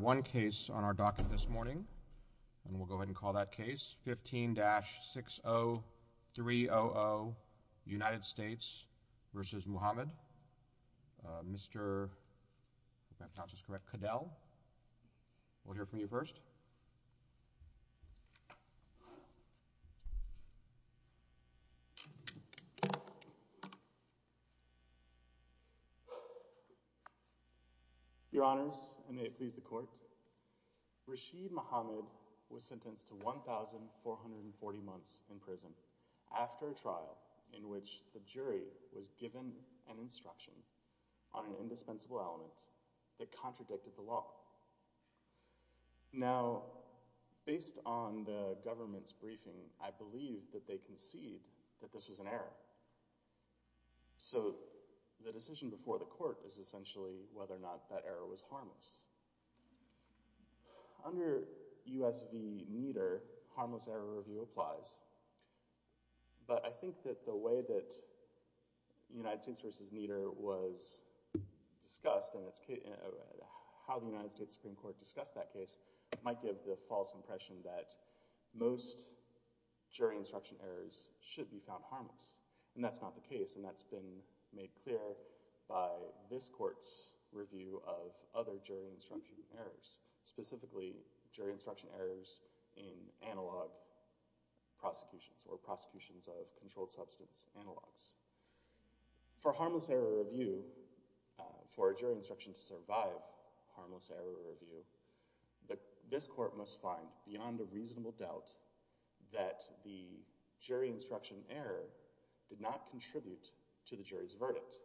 One case on our docket this morning, and we'll go ahead and call that case, 15-60300 United States v. Muhammad. Mr. Cadel, we'll hear from you first. Your honors, and may it please the court, Rashid Muhammad was sentenced to 1,440 months in prison after a trial in which the jury was given an instruction on an indispensable element that contradicted the law. Now, based on the government's briefing, I believe that they concede that this was an error. So the decision before the court is essentially whether or not that error was harmless. Under U.S. v. Nieder, harmless error review applies, but I think that the way that United States Supreme Court discussed that case might give the false impression that most jury instruction errors should be found harmless, and that's not the case, and that's been made clear by this court's review of other jury instruction errors, specifically jury instruction errors in analog prosecutions or prosecutions of controlled substance analogs. For harmless error review, for a jury instruction to survive harmless error review, this court must find, beyond a reasonable doubt, that the jury instruction error did not contribute to the jury's verdict.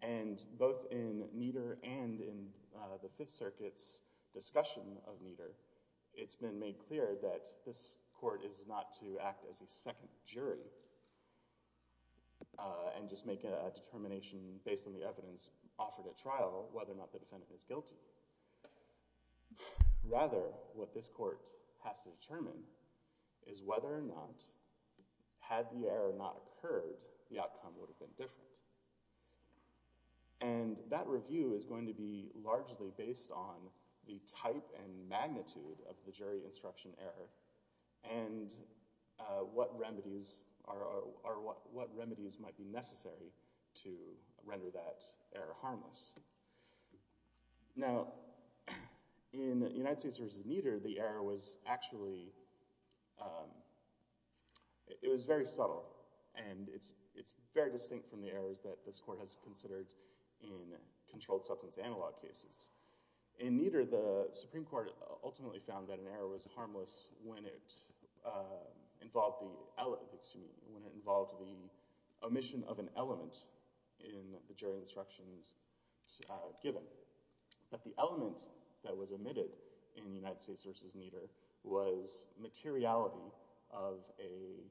And both in Nieder and in the Fifth Circuit's discussion of Nieder, it's been made clear that this court is not to act as a second jury and just make a determination based on the evidence offered at trial whether or not the defendant is guilty. Rather, what this court has to determine is whether or not, had the error not occurred, the outcome would have been different. And that review is going to be largely based on the type and magnitude of the jury instruction error and what remedies are, or what remedies might be necessary to render that error harmless. Now in United States v. Nieder, the error was actually, it was very subtle, and it's very distinct from the errors that this court has considered in controlled substance analog cases. In Nieder, the Supreme Court ultimately found that an error was harmless when it involved the omission of an element in the jury instructions given. But the element that was omitted in United States v. Nieder was materiality of a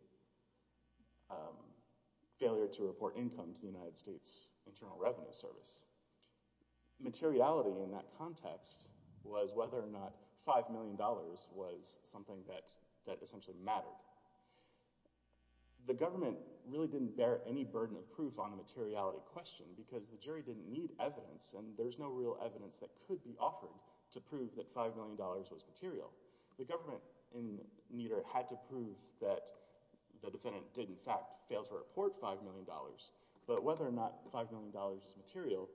failure to report income to the United States Internal Revenue Service. Materiality in that context was whether or not $5 million was something that essentially mattered. The government really didn't bear any burden of proof on the materiality question because the jury didn't need evidence, and there's no real evidence that could be offered to prove that $5 million was material. The government in Nieder had to prove that the defendant did in fact fail to report $5 million. But whether or not $5 million was material,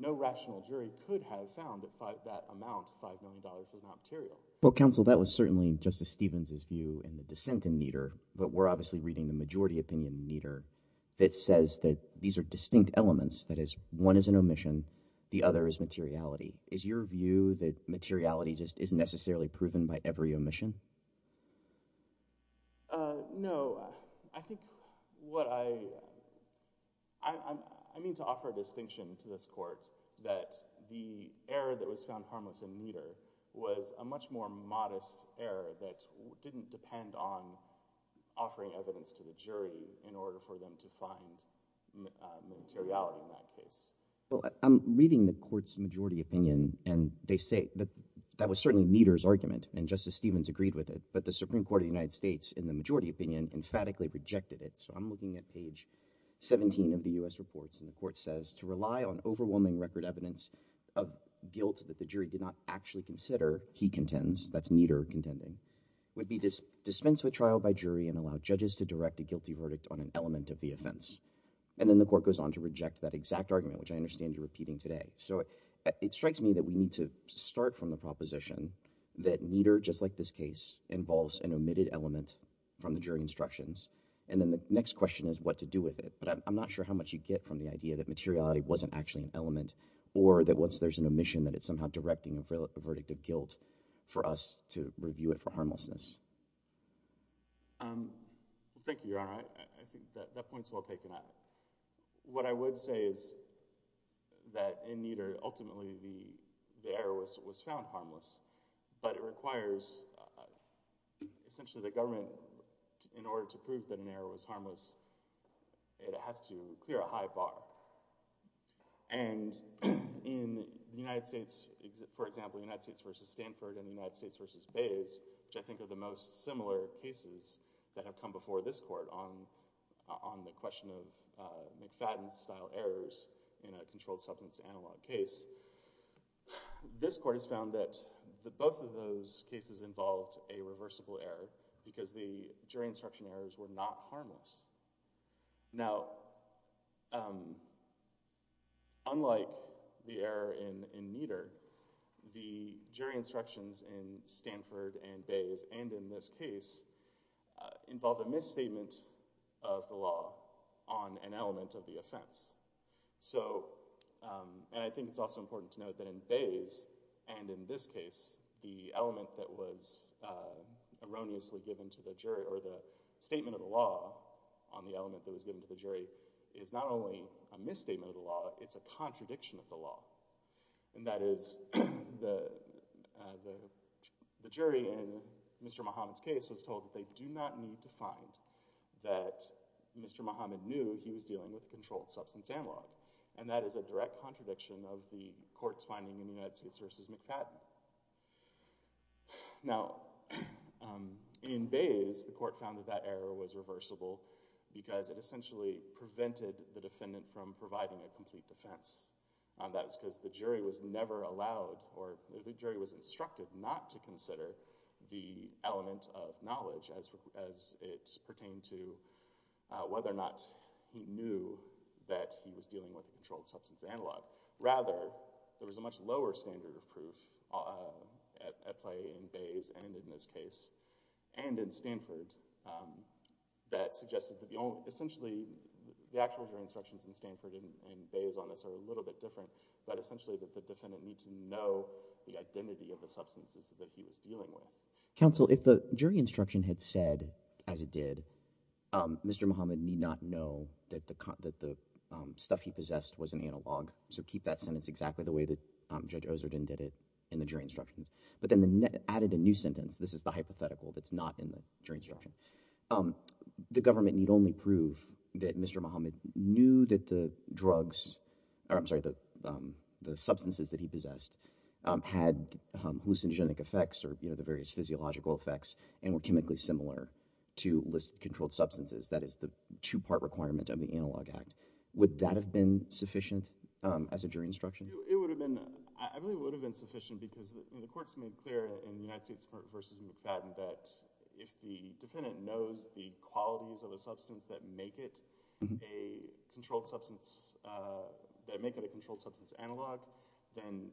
no rational jury could have found that that amount, $5 million, was not material. Well, counsel, that was certainly Justice Stevens' view in the dissent in Nieder, but we're obviously reading the majority opinion in Nieder that says that these are distinct elements. That is, one is an omission, the other is materiality. Is your view that materiality just isn't necessarily proven by every omission? No. I think what I—I mean to offer a distinction to this court that the error that was found harmless in Nieder was a much more modest error that didn't depend on offering evidence to the jury in order for them to find materiality in that case. Well, I'm reading the court's majority opinion, and they say that was certainly Nieder's view. And Justice Stevens agreed with it. But the Supreme Court of the United States, in the majority opinion, emphatically rejected it. So I'm looking at page 17 of the U.S. reports, and the court says, to rely on overwhelming record evidence of guilt that the jury did not actually consider he contends—that's Nieder contending—would be dispensed with trial by jury and allow judges to direct a guilty verdict on an element of the offense. And then the court goes on to reject that exact argument, which I understand you're repeating today. So it strikes me that we need to start from the proposition that Nieder, just like this case, involves an omitted element from the jury instructions. And then the next question is what to do with it. But I'm not sure how much you get from the idea that materiality wasn't actually an element or that once there's an omission that it's somehow directing a verdict of guilt for us to review it for harmlessness. Thank you, Your Honor. I think that point's well taken out. What I would say is that in Nieder, ultimately, the error was found harmless. But it requires, essentially, the government, in order to prove that an error was harmless, it has to clear a high bar. And in the United States, for example, United States v. Stanford and the United States v. Bays, which I think are the most similar cases that have come before this court on the question of McFadden-style errors in a controlled substance analog case, this court has found that both of those cases involved a reversible error because the jury instruction errors were not harmless. Now, unlike the error in Nieder, the jury instructions in Stanford and Bays and in this case involved a misstatement of the law on an element of the offense. So and I think it's also important to note that in Bays and in this case, the element that was erroneously given to the jury or the statement of the law on the element that was given to the jury is not only a misstatement of the law, it's a contradiction of the law. And that is the jury in Mr. Muhammad's case was told that they do not need to find that Mr. Muhammad knew he was dealing with a controlled substance analog. And that is a direct contradiction of the court's finding in the United States v. McFadden. Now in Bays, the court found that that error was reversible because it essentially prevented the defendant from providing a complete defense. And that's because the jury was never allowed or the jury was instructed not to consider the element of knowledge as it pertained to whether or not he knew that he was dealing with a controlled substance analog. Rather, there was a much lower standard of proof at play in Bays and in this case and in Stanford that suggested that the only essentially the actual jury instructions in Stanford and in Bays are a little bit different, but essentially that the defendant need to know the identity of the substances that he was dealing with. Counsel, if the jury instruction had said, as it did, Mr. Muhammad need not know that the stuff he possessed was an analog, so keep that sentence exactly the way that Judge Ozerden did it in the jury instructions, but then added a new sentence, this is the hypothetical that's not in the jury instruction, the government need only prove that Mr. Muhammad knew that the drugs, I'm sorry, the substances that he possessed had hallucinogenic effects or the various physiological effects and were chemically similar to list controlled substances, that is the two-part requirement of the Analog Act, would that have been sufficient as a jury instruction? It would have been. I really would have been sufficient because the court's made clear in the United States v. McFadden that if the defendant knows the qualities of a substance that make it a controlled substance analog, then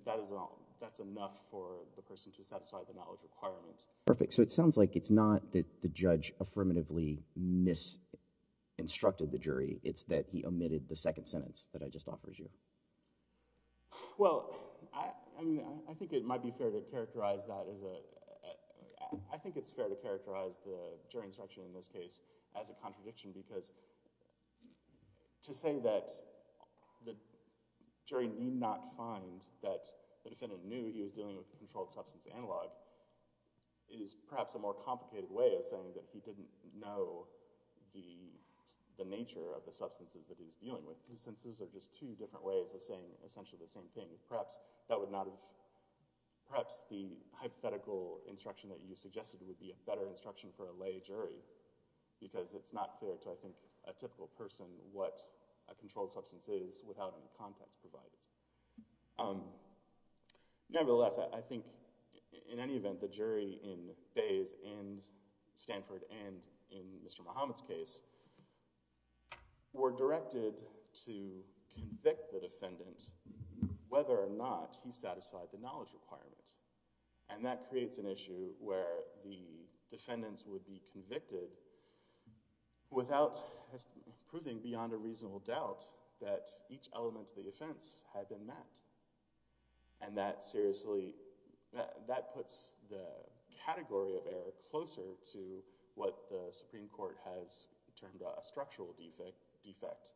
that's enough for the person to satisfy the knowledge requirement. Perfect. So it sounds like it's not that the judge affirmatively mis-instructed the jury, it's that he omitted the second sentence that I just offered you. Well, I think it might be fair to characterize that as a, I think it's fair to characterize the jury instruction in this case as a contradiction because to say that the jury need not find that the defendant knew he was dealing with a controlled substance analog is perhaps a more complicated way of saying that he didn't know the nature of the substances that he's dealing with. These sentences are just two different ways of saying essentially the same thing. Perhaps that would not have, perhaps the hypothetical instruction that you suggested would be a better instruction for a lay jury because it's not fair to, I think, a typical person what a controlled substance is without any context provided. Nevertheless, I think in any event, the jury in Faye's and Stanford and in Mr. Muhammad's case were directed to convict the defendant whether or not he satisfied the knowledge requirement. And that creates an issue where the defendants would be convicted without proving beyond a reasonable doubt that each element of the offense had been met. And that seriously, that puts the category of error closer to what the Supreme Court has termed a structural defect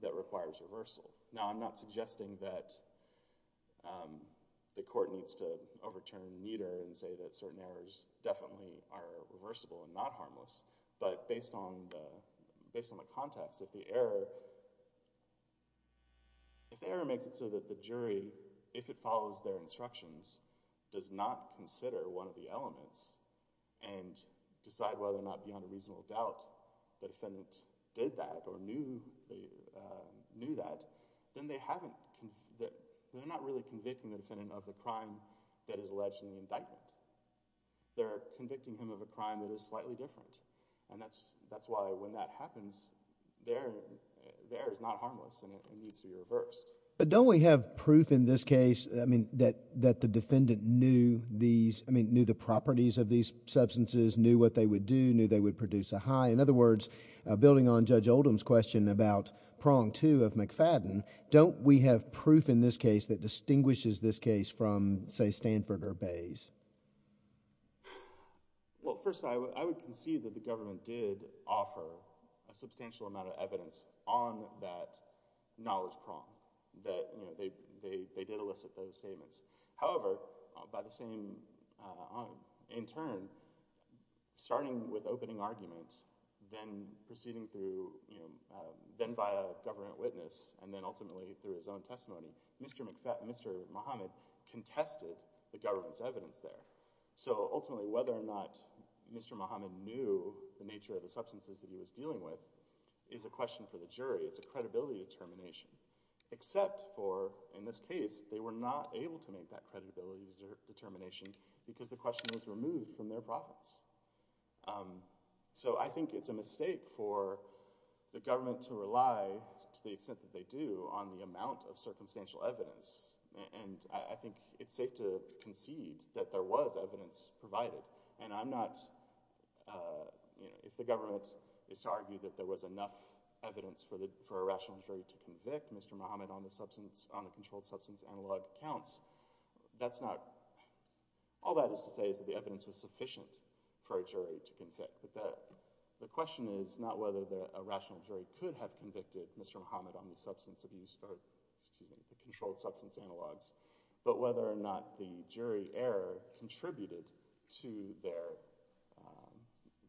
that requires reversal. Now, I'm not suggesting that the court needs to overturn meter and say that certain errors definitely are reversible and not harmless. But based on the context of the error, if the error makes it so that the jury, if it follows their instructions, does not consider one of the elements and decide whether or not it's harmless, then they haven't, they're not really convicting the defendant of a crime that is alleged in the indictment. They're convicting him of a crime that is slightly different. And that's why when that happens, the error is not harmless and it needs to be reversed. But don't we have proof in this case, I mean, that the defendant knew these, I mean, knew the properties of these substances, knew what they would do, knew they would produce a high. In other words, building on Judge Oldham's question about prong two of McFadden, don't we have proof in this case that distinguishes this case from, say, Stanford or Bayes? Well, first, I would concede that the government did offer a substantial amount of evidence on that knowledge prong, that, you know, they did elicit those statements. However, by the same, in turn, starting with opening arguments, then proceeding through, you know, then by a government witness, and then ultimately through his own testimony, Mr. McFadden, Mr. Muhammad contested the government's evidence there. So ultimately, whether or not Mr. Muhammad knew the nature of the substances that he was investigating, it's a credibility determination, except for, in this case, they were not able to make that credibility determination because the question was removed from their profits. So I think it's a mistake for the government to rely, to the extent that they do, on the amount of circumstantial evidence, and I think it's safe to concede that there was evidence provided, and I'm not, you know, if the government is to argue that there was enough evidence for a rational jury to convict Mr. Muhammad on the substance, on the controlled substance analog counts, that's not, all that is to say is that the evidence was sufficient for a jury to convict, but the question is not whether a rational jury could have convicted Mr. Muhammad on the substance abuse, or, excuse me, the controlled substance analogs, but whether or not the jury error contributed to their,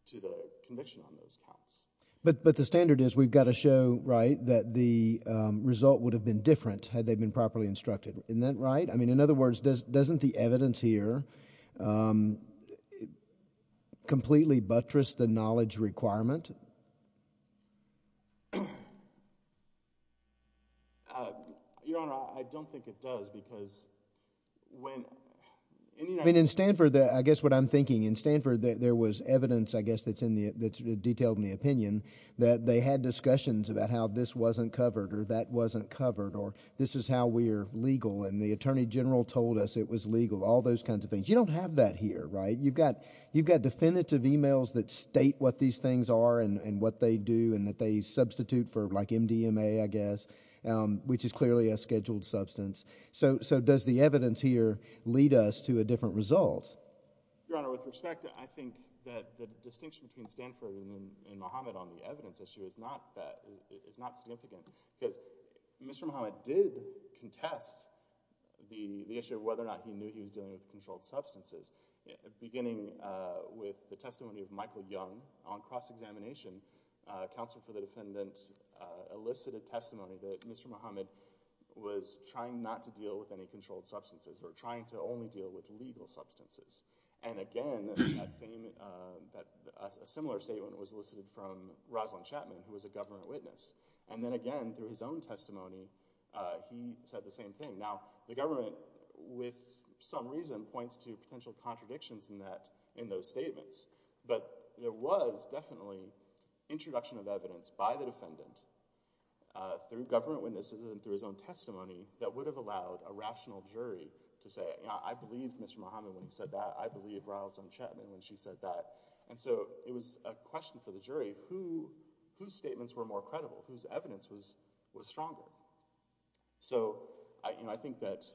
to the conviction on those counts. But the standard is, we've got to show, right, that the result would have been different had they been properly instructed, isn't that right? I mean, in other words, doesn't the evidence here completely buttress the knowledge requirement? Your Honor, I don't think it does, because when, I mean, in Stanford, I guess what I'm getting at is that, you know, in my opinion, that they had discussions about how this wasn't covered, or that wasn't covered, or this is how we're legal, and the Attorney General told us it was legal, all those kinds of things. You don't have that here, right? You've got, you've got definitive emails that state what these things are and what they do, and that they substitute for, like, MDMA, I guess, which is clearly a scheduled substance. So, so does the evidence here lead us to a different result? Your Honor, with respect, I think that the distinction between Stanford and Mohammed on the evidence issue is not that, is not significant, because Mr. Mohammed did contest the issue of whether or not he knew he was dealing with controlled substances, beginning with the testimony of Michael Young on cross-examination, counsel for the defendant elicited testimony that Mr. Mohammed was trying not to deal with any controlled substances, or trying to only deal with legal substances. And again, that same, that, a similar statement was elicited from Rosalind Chapman, who was a government witness, and then again, through his own testimony, he said the same thing. Now, the government, with some reason, points to potential contradictions in that, in those statements, but there was definitely introduction of evidence by the defendant, through government witnesses and through his own testimony, that would have allowed a rational jury to say, I believe Mr. Mohammed when he said that, I believe Rosalind Chapman when she said that. And so, it was a question for the jury, whose statements were more credible, whose evidence was stronger? So, I, you know, I think that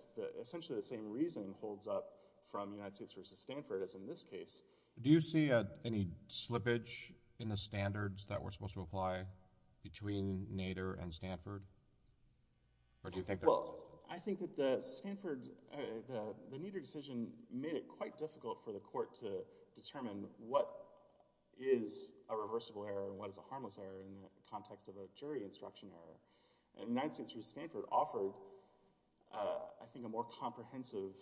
essentially the same reason holds up from United States versus Stanford, as in this case. Do you see any slippage in the standards that were supposed to apply between Nader and Stanford? Or do you think there is? Well, I think that the Stanford, the Nader decision made it quite difficult for the court to determine what is a reversible error and what is a harmless error, in the context of a jury instruction error, and United States versus Stanford offered, I think, a more comprehensive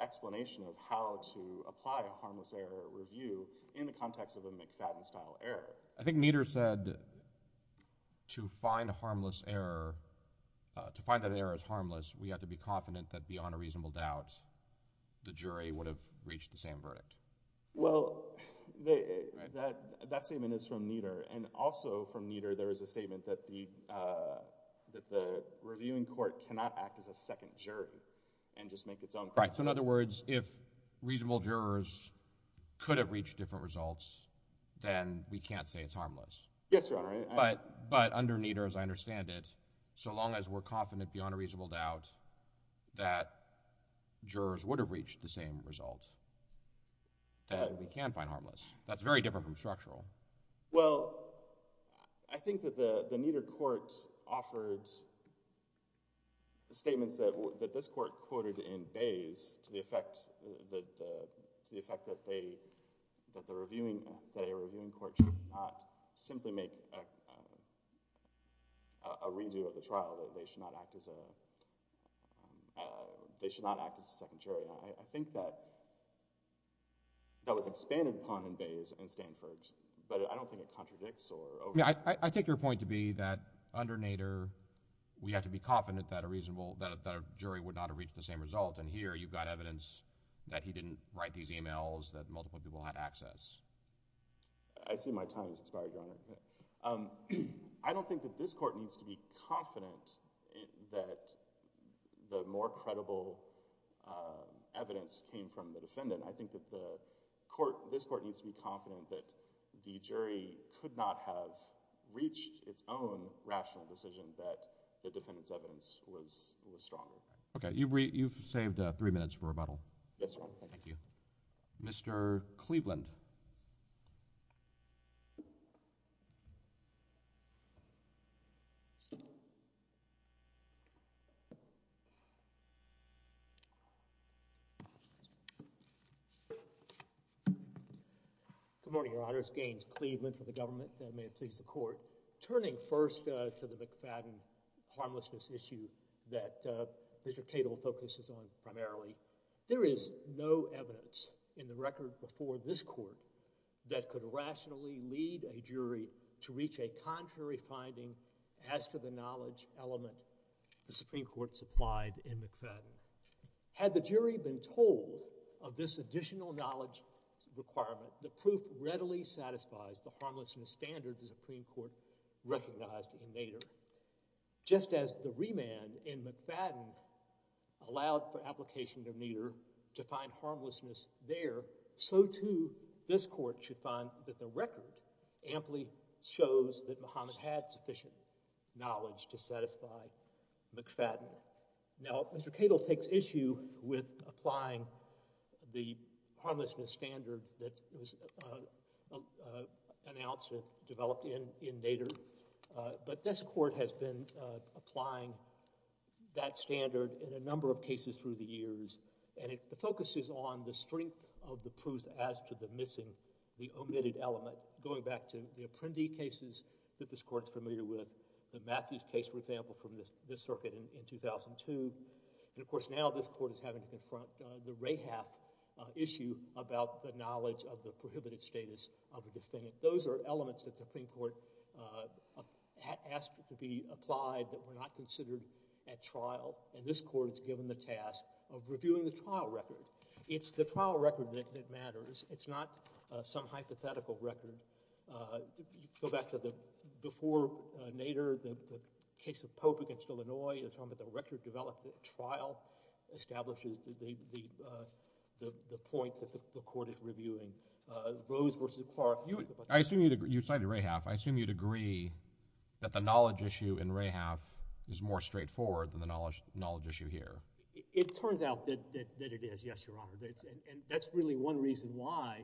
explanation of how to apply a harmless error review, in the context of a McFadden style error. I think Nader said, to find a harmless error, to find that an error is harmless, we have to be confident that beyond a reasonable doubt, the jury would have reached the same verdict. Well, that statement is from Nader, and also from Nader, there is a statement that the reviewing court cannot act as a second jury and just make its own. Right. So in other words, if reasonable jurors could have reached different results, then we can't say it's harmless. Yes, Your Honor. But, but under Nader, as I understand it, so long as we're confident beyond a reasonable doubt that jurors would have reached the same result, then we can find harmless. That's very different from structural. Well, I think that the Nader court offered statements that this court quoted in Bays to the effect that they, that the reviewing, that a reviewing court should not simply make a redo of the trial, that they should not act as a, they should not act as a second jury. I think that, that was expanded upon in Bays and Stanford, but I don't think it contradicts or overrides. I mean, I, I take your point to be that under Nader, we have to be confident that a reasonable, that a, that a jury would not have reached the same result, and here you've got evidence that he didn't write these emails, that multiple people had access. I see my time has expired, Your Honor. I don't think that this court needs to be confident that the more credible evidence came from the defendant. I think that the court, this court needs to be confident that the jury could not have reached its own rational decision that the defendant's evidence was, was strong. Okay. You've, you've saved three minutes for rebuttal. Yes, Your Honor. Thank you. Mr. Cleveland. Good morning, Your Honors. Gaines Cleveland for the government, and may it please the Court. Turning first to the McFadden harmlessness issue that, uh, Mr. Cato focuses on primarily, there is no evidence in the record before this Court that could rationally lead a jury to reach a contrary finding as to the knowledge element the Supreme Court supplied in McFadden. Had the jury been told of this additional knowledge requirement, the proof readily satisfies the harmlessness standards the Supreme Court recognized in Nader. Just as the remand in McFadden allowed for application of Nader to find harmlessness there, so too this Court should find that the record amply shows that Muhammad had sufficient knowledge to satisfy McFadden. Now, Mr. Cato takes issue with applying the harmlessness standards that was, uh, uh, announced and developed in, in Nader, uh, but this Court has been, uh, applying that standard in a number of cases through the years, and it, the focus is on the strength of the proof as to the missing, the omitted element, going back to the Apprendi cases that this Court is familiar with. The Matthews case, for example, from this, this circuit in, in 2002, and of course, now this Court is having to confront, uh, the Rahaff, uh, issue about the knowledge of the prohibited status of the defendant. Those are elements that the Supreme Court, uh, asked to be applied that were not considered at trial, and this Court is given the task of reviewing the trial record. It's the trial record that, that matters. It's not, uh, some hypothetical record, uh, go back to the, before, uh, Nader, the, the case of Pope against Illinois, the record developed at trial establishes the, the, uh, the, the point that the, the Court is reviewing, uh, Rose versus Clark, you would... I assume you'd agree, you cited Rahaff, I assume you'd agree that the knowledge issue in Rahaff is more straightforward than the knowledge, knowledge issue here. It turns out that, that, that it is, yes, Your Honor, that it's, and, and that's really one reason why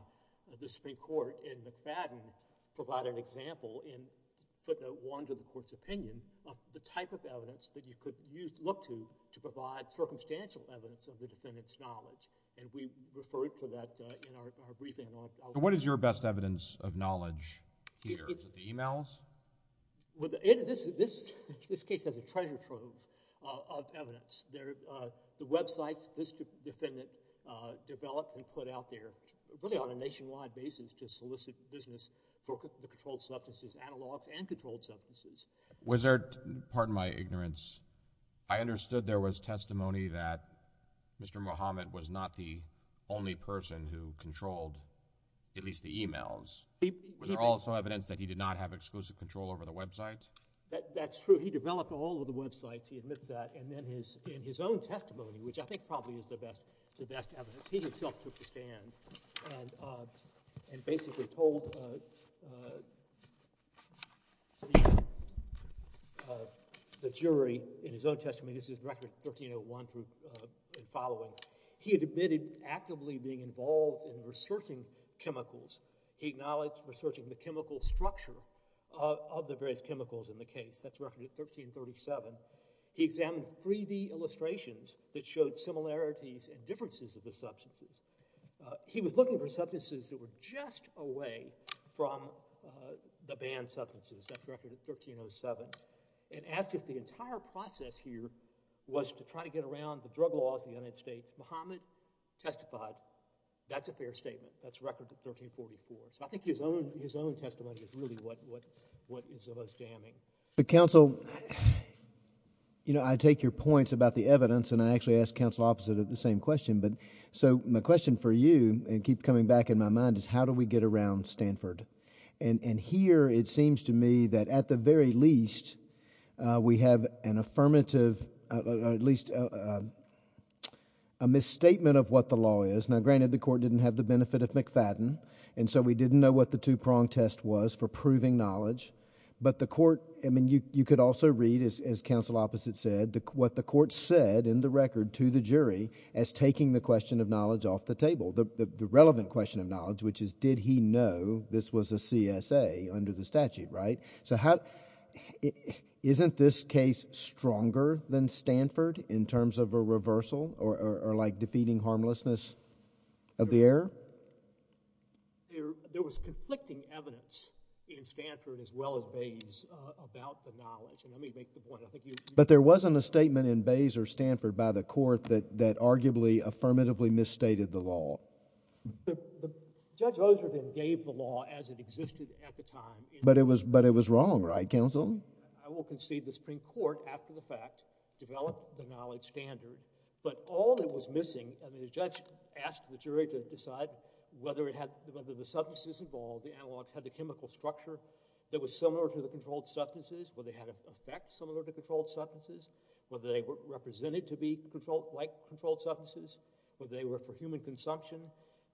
the Supreme Court and McFadden provide an example in, for the, one to the Court's opinion of the type of evidence that you could use, look to, to provide circumstantial evidence of the defendant's knowledge, and we referred to that, uh, in our, our briefing on... So what is your best evidence of knowledge here? Is it the e-mails? Well, the, this, this, this case has a treasure trove, uh, of evidence, there, uh, the websites this defendant, uh, developed and put out there, really on a nationwide basis to solicit business for the controlled substances, analogs and controlled substances. Was there, pardon my ignorance, I understood there was testimony that Mr. Muhammad was not the only person who controlled, at least the e-mails, was there also evidence that he did not have exclusive control over the website? That, that's true. He developed all of the websites, he admits that, and then his, in his own testimony, which I think probably is the best, the best evidence, he himself took the stand and, uh, and basically told, uh, uh, the, uh, the jury in his own testimony, this is record 1301 through, uh, and following, he had admitted actively being involved in researching chemicals. He acknowledged researching the chemical structure of, of the various chemicals in the case. That's record 1337. He examined 3D illustrations that showed similarities and differences of the substances. Uh, he was looking for substances that were just away from, uh, the banned substances. That's record 1307. And asked if the entire process here was to try to get around the drug laws in the United States. Muhammad testified, that's a fair statement. That's record 1344. So I think his own, his own testimony is really what, what, what is the most damning. But counsel, you know, I take your points about the evidence and I actually ask counsel opposite of the same question. But so my question for you and keep coming back in my mind is how do we get around Stanford? And, and here it seems to me that at the very least, uh, we have an affirmative, uh, or at least, uh, uh, a misstatement of what the law is. Now granted the court didn't have the benefit of McFadden and so we didn't know what the two prong test was for proving knowledge. But the court, I mean, you, you could also read as, as counsel opposite said, the, what the court said in the record to the jury as taking the question of knowledge off the table. The, the, the relevant question of knowledge, which is, did he know this was a CSA under the statute? Right? So how, isn't this case stronger than Stanford in terms of a reversal or, or, or like defeating harmlessness of the error? There, there was conflicting evidence in Stanford as well as Bates, uh, about the knowledge. But there wasn't a statement in Bates or Stanford by the court that, that arguably affirmatively misstated the law. The, the Judge Osler then gave the law as it existed at the time. But it was, but it was wrong, right, counsel? I will concede the Supreme Court after the fact developed the knowledge standard. But all that was missing, I mean, the judge asked the jury to decide whether it had, whether the substances involved, the analogs had the chemical structure that was similar to the effect, similar to controlled substances, whether they were represented to be controlled, like controlled substances, whether they were for human consumption.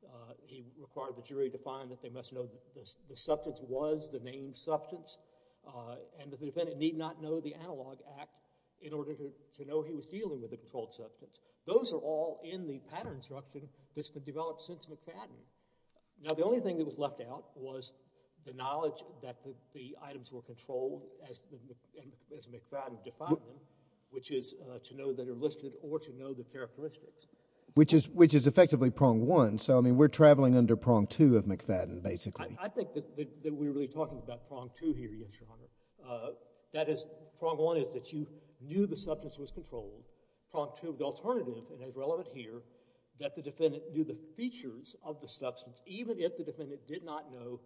Uh, he required the jury to find that they must know that the, the substance was the named substance, uh, and that the defendant need not know the analog act in order to, to know he was dealing with the controlled substance. Those are all in the pattern instruction that's been developed since McFadden. Now the only thing that was left out was the knowledge that the, the items were controlled as, as McFadden defined them, which is, uh, to know that are listed or to know the characteristics. Which is, which is effectively prong one, so I mean, we're traveling under prong two of McFadden, basically. I, I think that, that, that we're really talking about prong two here, yes, Your Honor. Uh, that is, prong one is that you knew the substance was controlled, prong two, the alternative, and it's relevant here, that the defendant knew the features of the substance, even if the defendant did not know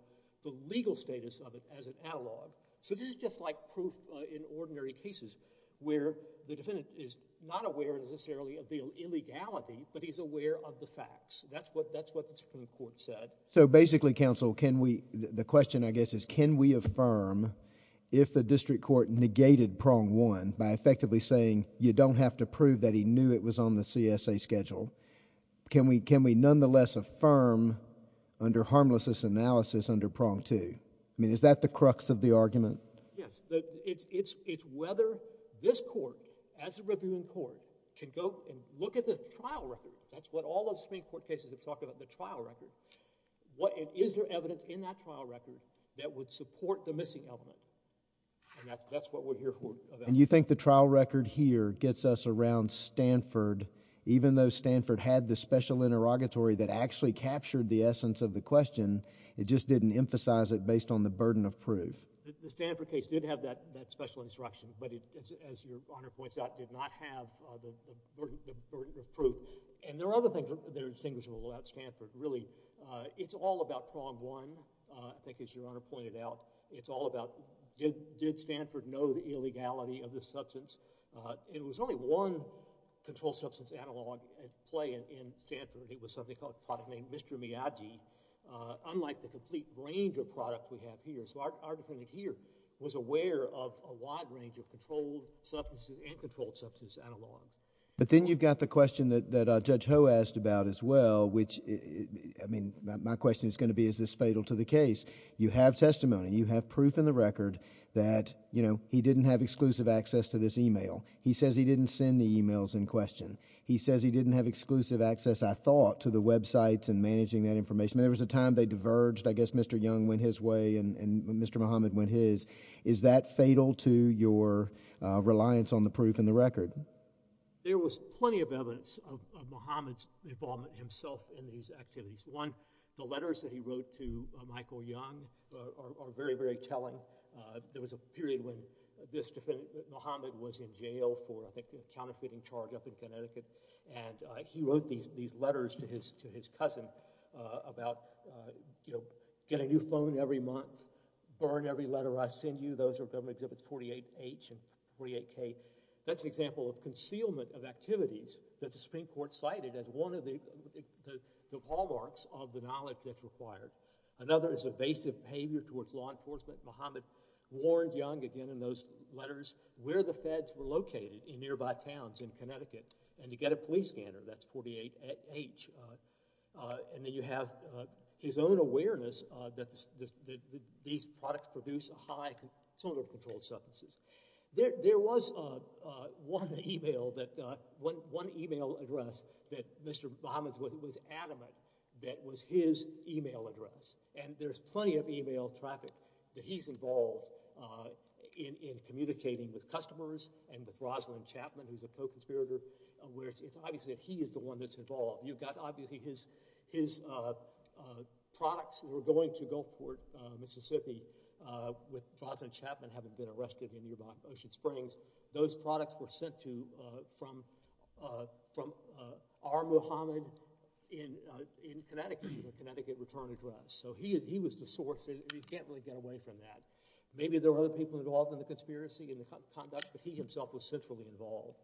the legal status of it as an analog. So this is just like proof, uh, in ordinary cases, where the defendant is not aware necessarily of the illegality, but he's aware of the facts. That's what, that's what the Supreme Court said. So basically, counsel, can we, the question, I guess, is can we affirm if the district court negated prong one by effectively saying you don't have to prove that he knew it was on the CSA schedule, can we, can we nonetheless affirm under harmlessness analysis under prong two? I mean, is that the crux of the argument? Yes. It's, it's, it's whether this court, as a reviewing court, can go and look at the trial record. That's what all those Supreme Court cases have talked about, the trial record. What is, is there evidence in that trial record that would support the missing element? And that's, that's what we're here for. And you think the trial record here gets us around Stanford, even though Stanford had the special interrogatory that actually captured the essence of the question, it just didn't emphasize it based on the burden of proof. The, the Stanford case did have that, that special instruction, but it, as, as Your Honor points out, did not have the, the burden, the burden of proof. And there are other things that are distinguishable about Stanford, really. It's all about prong one, I think, as Your Honor pointed out. It's all about did, did Stanford know the illegality of this substance? It was only one controlled substance analog at play in, in Stanford. It was something called, a product named Mr. Miyagi, unlike the complete range of products we have here. So our, our defendant here was aware of a wide range of controlled substances, and controlled substances analogs. But then you've got the question that, that Judge Ho asked about as well, which, I mean, my question is going to be, is this fatal to the case? You have testimony, you have proof in the record that, you know, he didn't have exclusive access to this email. He says he didn't send the emails in question. He says he didn't have exclusive access, I thought, to the websites and managing that information. There was a time they diverged. I guess Mr. Young went his way and, and Mr. Muhammad went his. Is that fatal to your, uh, reliance on the proof in the record? There was plenty of evidence of, of Muhammad's involvement himself in these activities. One, the letters that he wrote to Michael Young are, are, are very, very telling. Uh, there was a period when this defendant, Muhammad was in jail for, I think, a counterfeiting charge up in Connecticut, and, uh, he wrote these, these letters to his, to his cousin, uh, about, uh, you know, get a new phone every month, burn every letter I send you. Those are Government Exhibits 48H and 48K. That's an example of concealment of activities that the Supreme Court cited as one of the, the hallmarks of the knowledge that's required. Another is evasive behavior towards law enforcement. Muhammad warned Young, again, in those letters, where the feds were located in nearby towns in Connecticut, and you get a police scanner, that's 48H, uh, uh, and then you have, uh, his own awareness, uh, that the, the, the, these products produce a high, some of the controlled substances. There, there was, uh, uh, one email that, uh, one, one email address that Mr. Muhammad was adamant that was his email address. And there's plenty of email traffic that he's involved, uh, in, in communicating with customers and with Rosalind Chapman, who's a co-conspirator, uh, where it's, it's obviously that he is the one that's involved. You've got, obviously, his, his, uh, uh, products were going to Gulfport, uh, Mississippi, uh, with Rosalind Chapman having been arrested in nearby Ocean Springs. Those products were sent to, uh, from, uh, from, uh, R. Muhammad in, uh, in Connecticut, in the Connecticut return address. So he is, he was the source, and you can't really get away from that. Maybe there were other people involved in the conspiracy and the conduct, but he himself was centrally involved.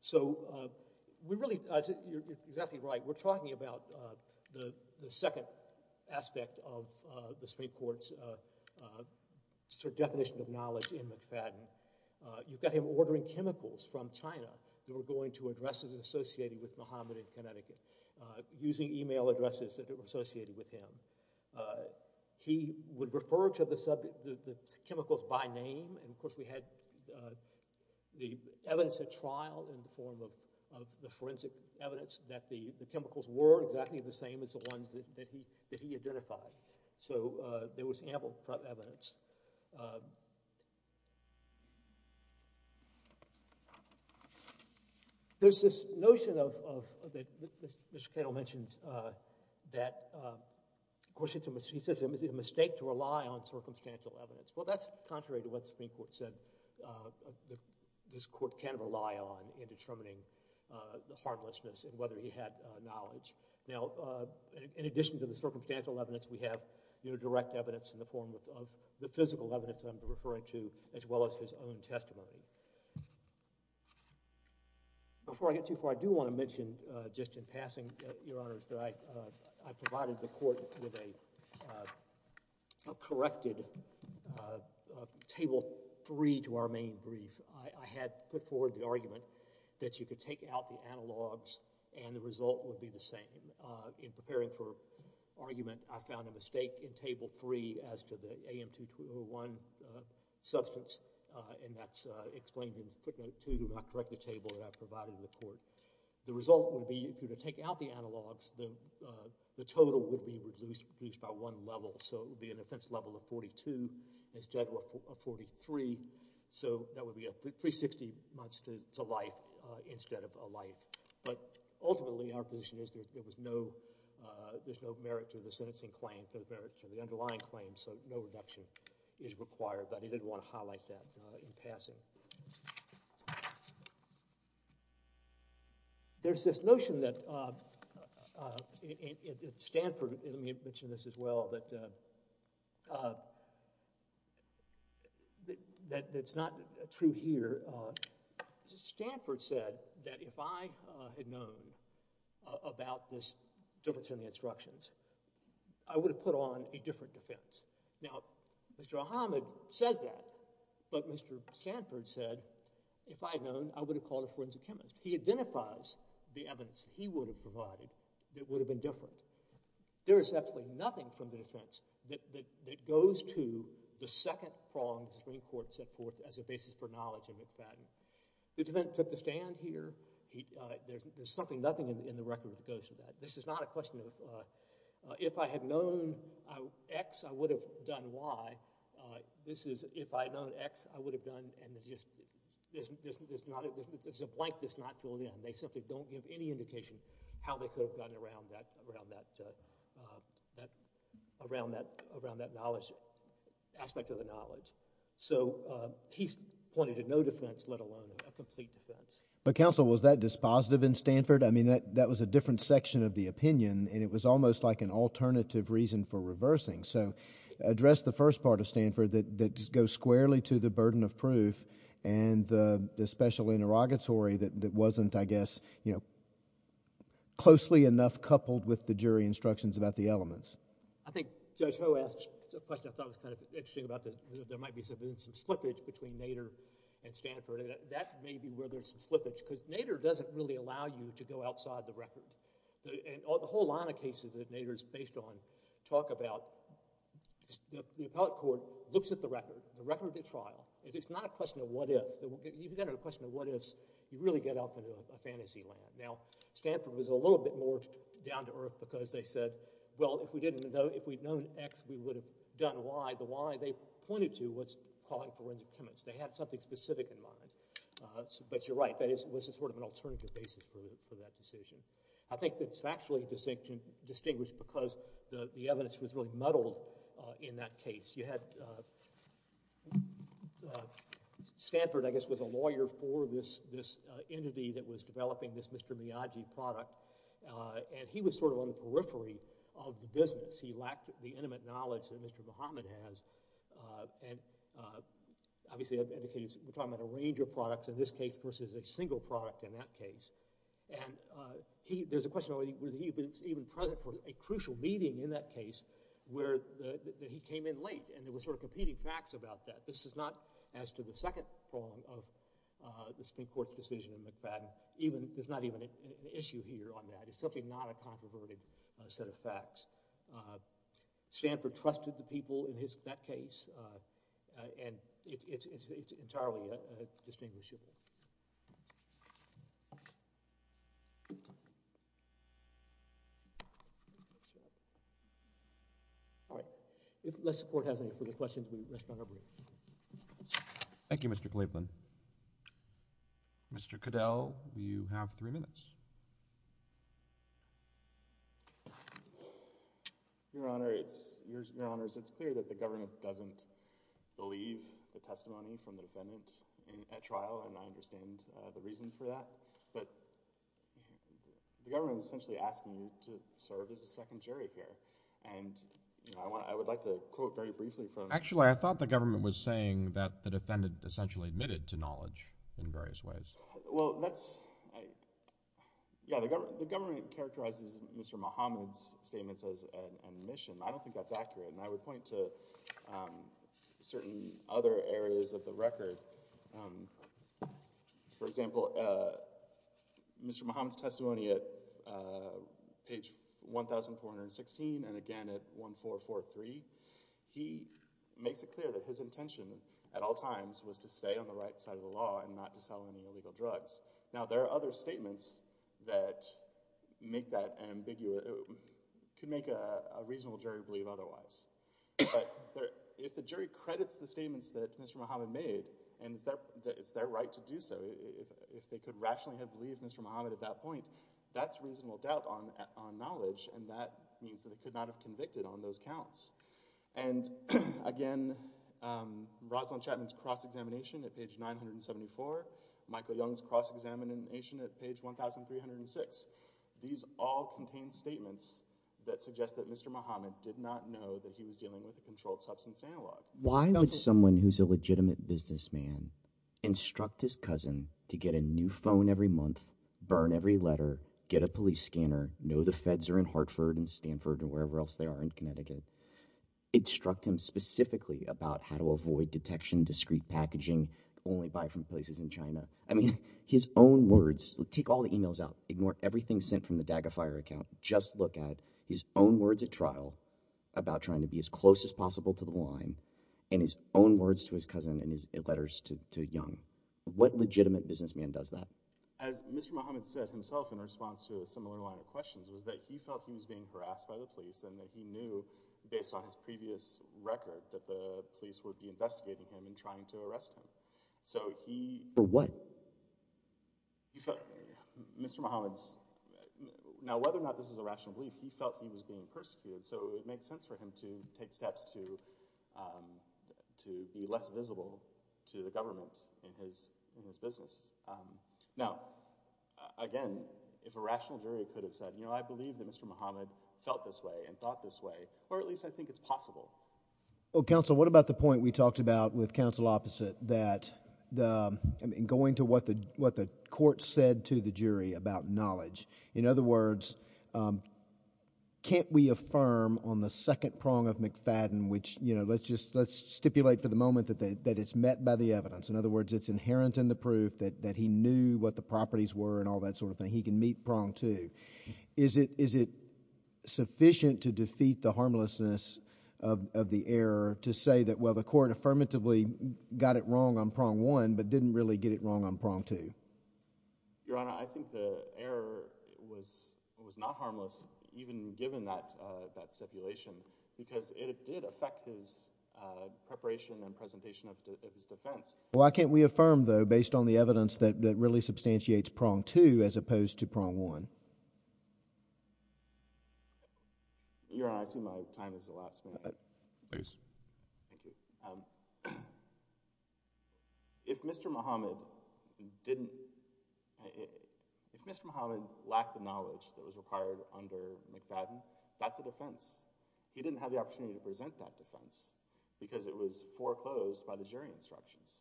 So, uh, we really, uh, you're, you're exactly right, we're talking about, uh, the, the second aspect of, uh, the Supreme Court's, uh, uh, sort of definition of knowledge in McFadden. Uh, you've got him ordering chemicals from China that were going to addresses associated with Muhammad in Connecticut, uh, using email addresses that were associated with him. Uh, he would refer to the subject, the, the chemicals by name, and of course we had, uh, the evidence at trial in the form of, of the forensic evidence that the, the chemicals were exactly the same as the ones that, that he, that he identified. So, uh, there was ample evidence. Uh, there's this notion of, of, that Mr. Cannell mentions, uh, that, uh, of course it's a mistake, he says it's a mistake to rely on circumstantial evidence. Well, that's contrary to what the Supreme Court said, uh, that this Court can rely on in determining, uh, the heartlessness and whether he had, uh, knowledge. Now, uh, in addition to the circumstantial evidence, we have, you know, direct evidence in the form of, of the physical evidence that I'm referring to, as well as his own testimony. Before I get too far, I do want to mention, uh, just in passing, uh, Your Honors, that I, uh, I provided the Court with a, uh, a corrected, uh, uh, table three to our main brief. I, I had put forward the argument that you could take out the analogs and the result would be the same. Uh, in, uh, in preparing for argument, I found a mistake in table three as to the AM2201, uh, substance, uh, and that's, uh, explained in footnote two, I correct the table that I provided in the Court. The result would be, if you were to take out the analogs, the, uh, the total would be reduced, reduced by one level. So it would be an offense level of 42 instead of a 43. So that would be a 360 months to, to life, uh, instead of a life. But ultimately, our position is there, there was no, uh, there's no merit to the sentencing claim, there's merit to the underlying claim, so no reduction is required, but I did want to highlight that, uh, in passing. There's this notion that, uh, uh, in, in, in Stanford, let me mention this as well, that, uh, uh, that, that's not true here. That, uh, Stanford said that if I, uh, had known, uh, about this difference in the instructions, I would have put on a different defense. Now, Mr. Ahmed says that, but Mr. Stanford said, if I had known, I would have called a forensic chemist. He identifies the evidence he would have provided that would have been different. There is absolutely nothing from the defense that, that, that goes to the second prong that the Supreme Court set forth as a basis for knowledge in McFadden. The defense took the stand here, he, uh, there's, there's something, nothing in, in the record that goes to that. This is not a question of, uh, uh, if I had known, uh, X, I would have done Y, uh, this is if I had known X, I would have done, and just, there's, there's, there's not, there's a blank that's not filled in. They simply don't give any indication how they could have gone around that, around that, uh, uh, that, around that, around that knowledge, aspect of the knowledge. So, uh, he's pointed to no defense, let alone a complete defense. But counsel, was that dispositive in Stanford? I mean, that, that was a different section of the opinion, and it was almost like an alternative reason for reversing. So address the first part of Stanford that, that just goes squarely to the burden of proof and the, the special interrogatory that, that wasn't, I guess, you know, closely enough coupled with the jury instructions about the elements. I think Judge Ho asked a question I thought was kind of interesting about the, there might be some, some slippage between Nader and Stanford, and that, that may be where there's some slippage, because Nader doesn't really allow you to go outside the record. The, and all, the whole line of cases that Nader's based on talk about, the, the appellate court looks at the record, the record of the trial, and it's not a question of what if, you've got a question of what ifs, you really get off into a, a fantasy land. Now, Stanford was a little bit more down to earth, because they said, well, if we didn't know, if we'd known X, we would have done Y. The Y, they pointed to, was calling forensic chemists. They had something specific in mind. So, but you're right, that is, was a sort of an alternative basis for, for that decision. I think that's factually distinct, distinguished because the, the evidence was really muddled in that case. You had Stanford, I guess, was a lawyer for this, this entity that was developing this Mr. Miyagi product, and he was sort of on the periphery of the business. He lacked the intimate knowledge that Mr. Bahamut has, and obviously, I've indicated we're talking about a range of products in this case versus a single product in that case, and he, there's a question of whether he was even, even present for a crucial meeting in that case where the, that he came in late, and there were sort of competing facts about that. This is not as to the second form of the Supreme Court's decision in McFadden, even, there's not even an issue here on that. It's simply not a controverted set of facts. Stanford trusted the people in his, that case, and it's, it's, it's entirely a, a distinguishable. All right, unless the Court has any further questions, we, let's go to our brief. Thank you, Mr. Cleveland. Mr. Cadell, you have three minutes. Your Honor, it's, Your Honors, it's clear that the government doesn't believe the testimony from the defendant in a trial, and I understand the reason for that, but the government is essentially asking you to serve as a second jury here, and you know, I want, I would like to quote very briefly from. Actually, I thought the government was saying that the defendant essentially admitted to knowledge in various ways. Well, that's, I, yeah, the government, the government characterizes Mr. Muhammad's statements as an admission. I don't think that's accurate, and I would point to certain other areas of the record. For example, Mr. Muhammad's testimony at page 1,416, and again at 1443, he makes it clear that his intention, at all times, was to stay on the right side of the law and not to sell any illegal drugs. Now there are other statements that make that ambiguous, could make a reasonable jury believe otherwise. But if the jury credits the statements that Mr. Muhammad made, and it's their right to do so, if they could rationally have believed Mr. Muhammad at that point, that's reasonable doubt on knowledge, and that means that it could not have convicted on those counts. And again, Rosalind Chapman's cross-examination at page 974, Michael Young's cross-examination at page 1306, these all contain statements that suggest that Mr. Muhammad did not know that he was dealing with a controlled substance analog. Why would someone who's a legitimate businessman instruct his cousin to get a new phone every month, burn every letter, get a police scanner, know the feds are in Hartford and Stanford or wherever else they are in Connecticut, instruct him specifically about how to avoid detection, discreet packaging, only buy from places in China, I mean, his own words, take all the emails out, ignore everything sent from the DAGA Fire account, just look at his own words at trial about trying to be as close as possible to the line, and his own words to his cousin and his letters to Young. What legitimate businessman does that? As Mr. Muhammad said himself in response to a similar line of questions was that he felt he was being harassed by the police and that he knew, based on his previous record, that the police would be investigating him and trying to arrest him. So he... For what? He felt... Mr. Muhammad's... Now, whether or not this is a rational belief, he felt he was being persecuted, so it makes sense for him to take steps to be less visible to the government in his business. Now, again, if a rational jury could have said, you know, I believe that Mr. Muhammad felt this way and thought this way, or at least I think it's possible. Well, Counsel, what about the point we talked about with Counsel Opposite that, I mean, going to what the court said to the jury about knowledge, in other words, can't we affirm on the second prong of McFadden, which, you know, let's just, let's stipulate for the moment that it's met by the evidence, in other words, it's inherent in the proof that he knew what the properties were and all that sort of thing, he can meet prong two. Is it sufficient to defeat the harmlessness of the error to say that, well, the court affirmatively got it wrong on prong one, but didn't really get it wrong on prong two? Your Honor, I think the error was not harmless, even given that stipulation, because it did affect his preparation and presentation of his defense. Well, why can't we affirm, though, based on the evidence that really substantiates prong two as opposed to prong one? Your Honor, I assume my time is the last minute. Please. Thank you. If Mr. Muhammad didn't, if Mr. Muhammad lacked the knowledge that was required under McFadden, that's a defense. He didn't have the opportunity to present that defense because it was foreclosed by the jury instructions.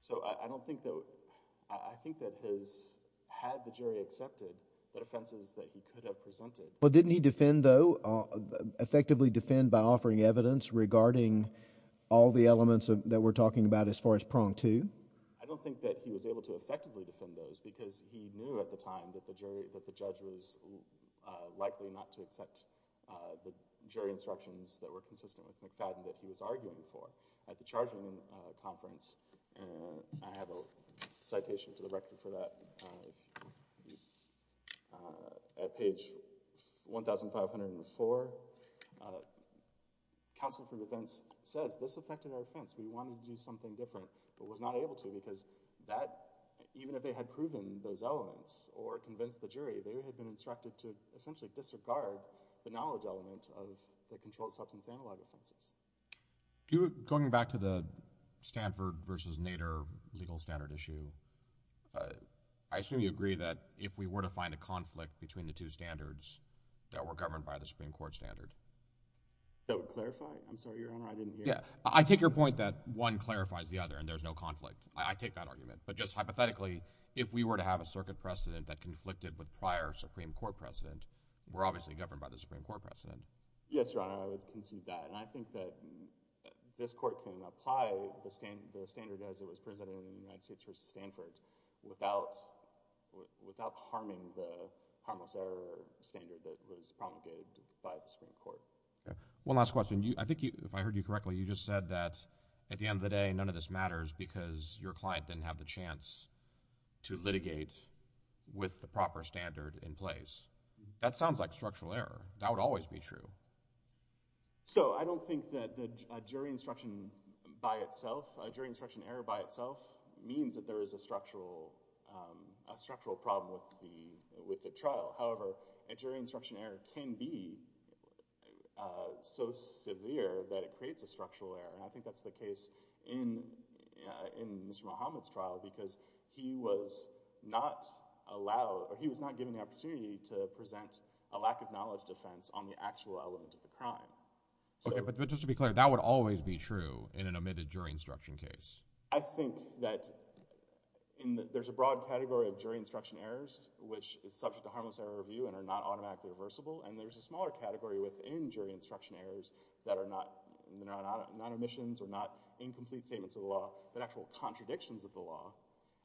So, I don't think that, I think that his, had the jury accepted the offenses that he could have presented. Well, didn't he defend, though, effectively defend by offering evidence regarding all the elements that we're talking about as far as prong two? I don't think that he was able to effectively defend those because he knew at the time that the jury, that the judge was likely not to accept the jury instructions that were consistent with McFadden that he was arguing for. At the charging conference, and I have a citation to the record for that, at page 1,504, counsel for defense says, this affected our defense, we wanted to do something different, but was not able to because that, even if they had proven those elements or convinced the jury, they had been instructed to essentially disregard the knowledge element of the controlled substance analog offenses. Do, going back to the Stanford versus Nader legal standard issue, I assume you agree that if we were to find a conflict between the two standards that were governed by the Supreme Court standard? That would clarify? I'm sorry, Your Honor, I didn't hear. Yeah. I take your point that one clarifies the other and there's no conflict. I take that argument. But just hypothetically, if we were to have a circuit precedent that conflicted with prior Supreme Court precedent, we're obviously governed by the Supreme Court precedent. Yes, Your Honor, I would concede that. And I think that this court can apply the standard as it was presented in the United States versus Stanford without harming the harmless error standard that was promulgated by the Supreme Court. Okay. One last question. I think you, if I heard you correctly, you just said that at the end of the day, none of this matters because your client didn't have the chance to litigate with the proper standard in place. That sounds like structural error. That would always be true. So, I don't think that a jury instruction by itself, a jury instruction error by itself means that there is a structural, a structural problem with the, with the trial. However, a jury instruction error can be so severe that it creates a structural error. And I think that's the case in, in Mr. Muhammad's trial because he was not allowed, or he was not given the opportunity to present a lack of knowledge defense on the actual element of the crime. Okay, but just to be clear, that would always be true in an admitted jury instruction case? I think that in the, there's a broad category of jury instruction errors, which is subject to harmless error review and are not automatically reversible, and there's a smaller category within jury instruction errors that are not, that are not omissions or not incomplete statements of the law, but actual contradictions of the law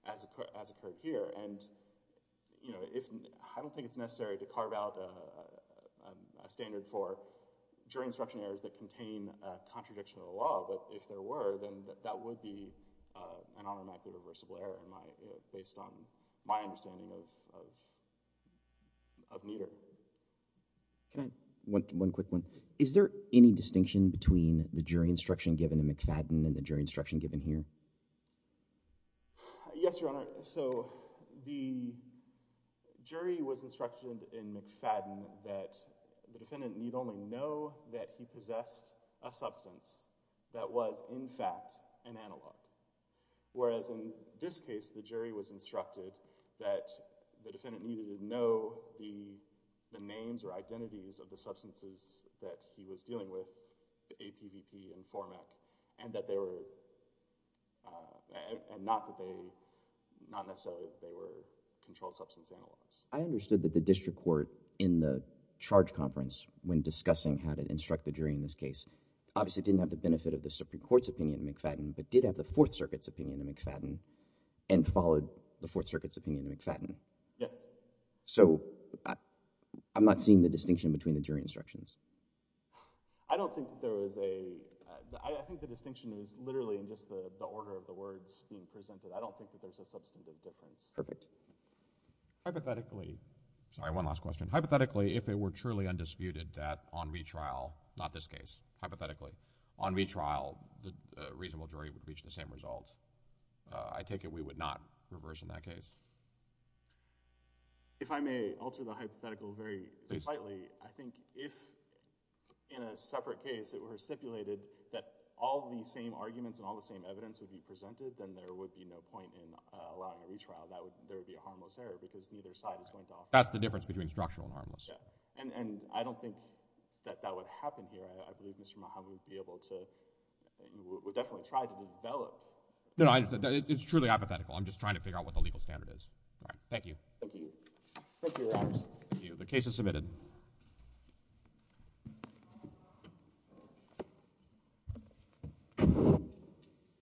as, as occurred here. And, you know, if, I don't think it's necessary to carve out a standard for jury instruction errors that contain a contradiction of the law, but if there were, then that would be an automatically reversible error in my, based on my understanding of, of, of Nieder. Can I, one, one quick one. Is there any distinction between the jury instruction given in McFadden and the jury instruction given here? Yes, Your Honor. So, the jury was instructed in McFadden that the defendant need only know that he possessed a substance that was in fact an analog, whereas in this case, the jury was instructed that the defendant needed to know the, the names or identities of the substances that he was not necessarily, they were controlled substance analogs. I understood that the district court in the charge conference, when discussing how to instruct the jury in this case, obviously didn't have the benefit of the Supreme Court's opinion in McFadden, but did have the Fourth Circuit's opinion in McFadden and followed the Fourth Circuit's opinion in McFadden. Yes. So, I'm not seeing the distinction between the jury instructions. I don't think there was a, I think the distinction is literally in just the, the order of the words being presented. I don't think that there's a substantive difference. Hypothetically, sorry, one last question. Hypothetically, if it were truly undisputed that on retrial, not this case, hypothetically, on retrial, the reasonable jury would reach the same results, I take it we would not reverse in that case? If I may alter the hypothetical very slightly. Please. I think if in a separate case it were stipulated that all the same arguments and all the same evidence would be presented, then there would be no difference. If there was a point in allowing a retrial, that would, there would be a harmless error because neither side is going to offer... That's the difference between structural and harmless. Yeah. And, and I don't think that that would happen here. I, I believe Mr. Mahamoud would be able to, would definitely try to develop... No, I, it's truly hypothetical. I'm just trying to figure out what the legal standard is. All right. Thank you. Thank you. Thank you, Your Honors. Thank you.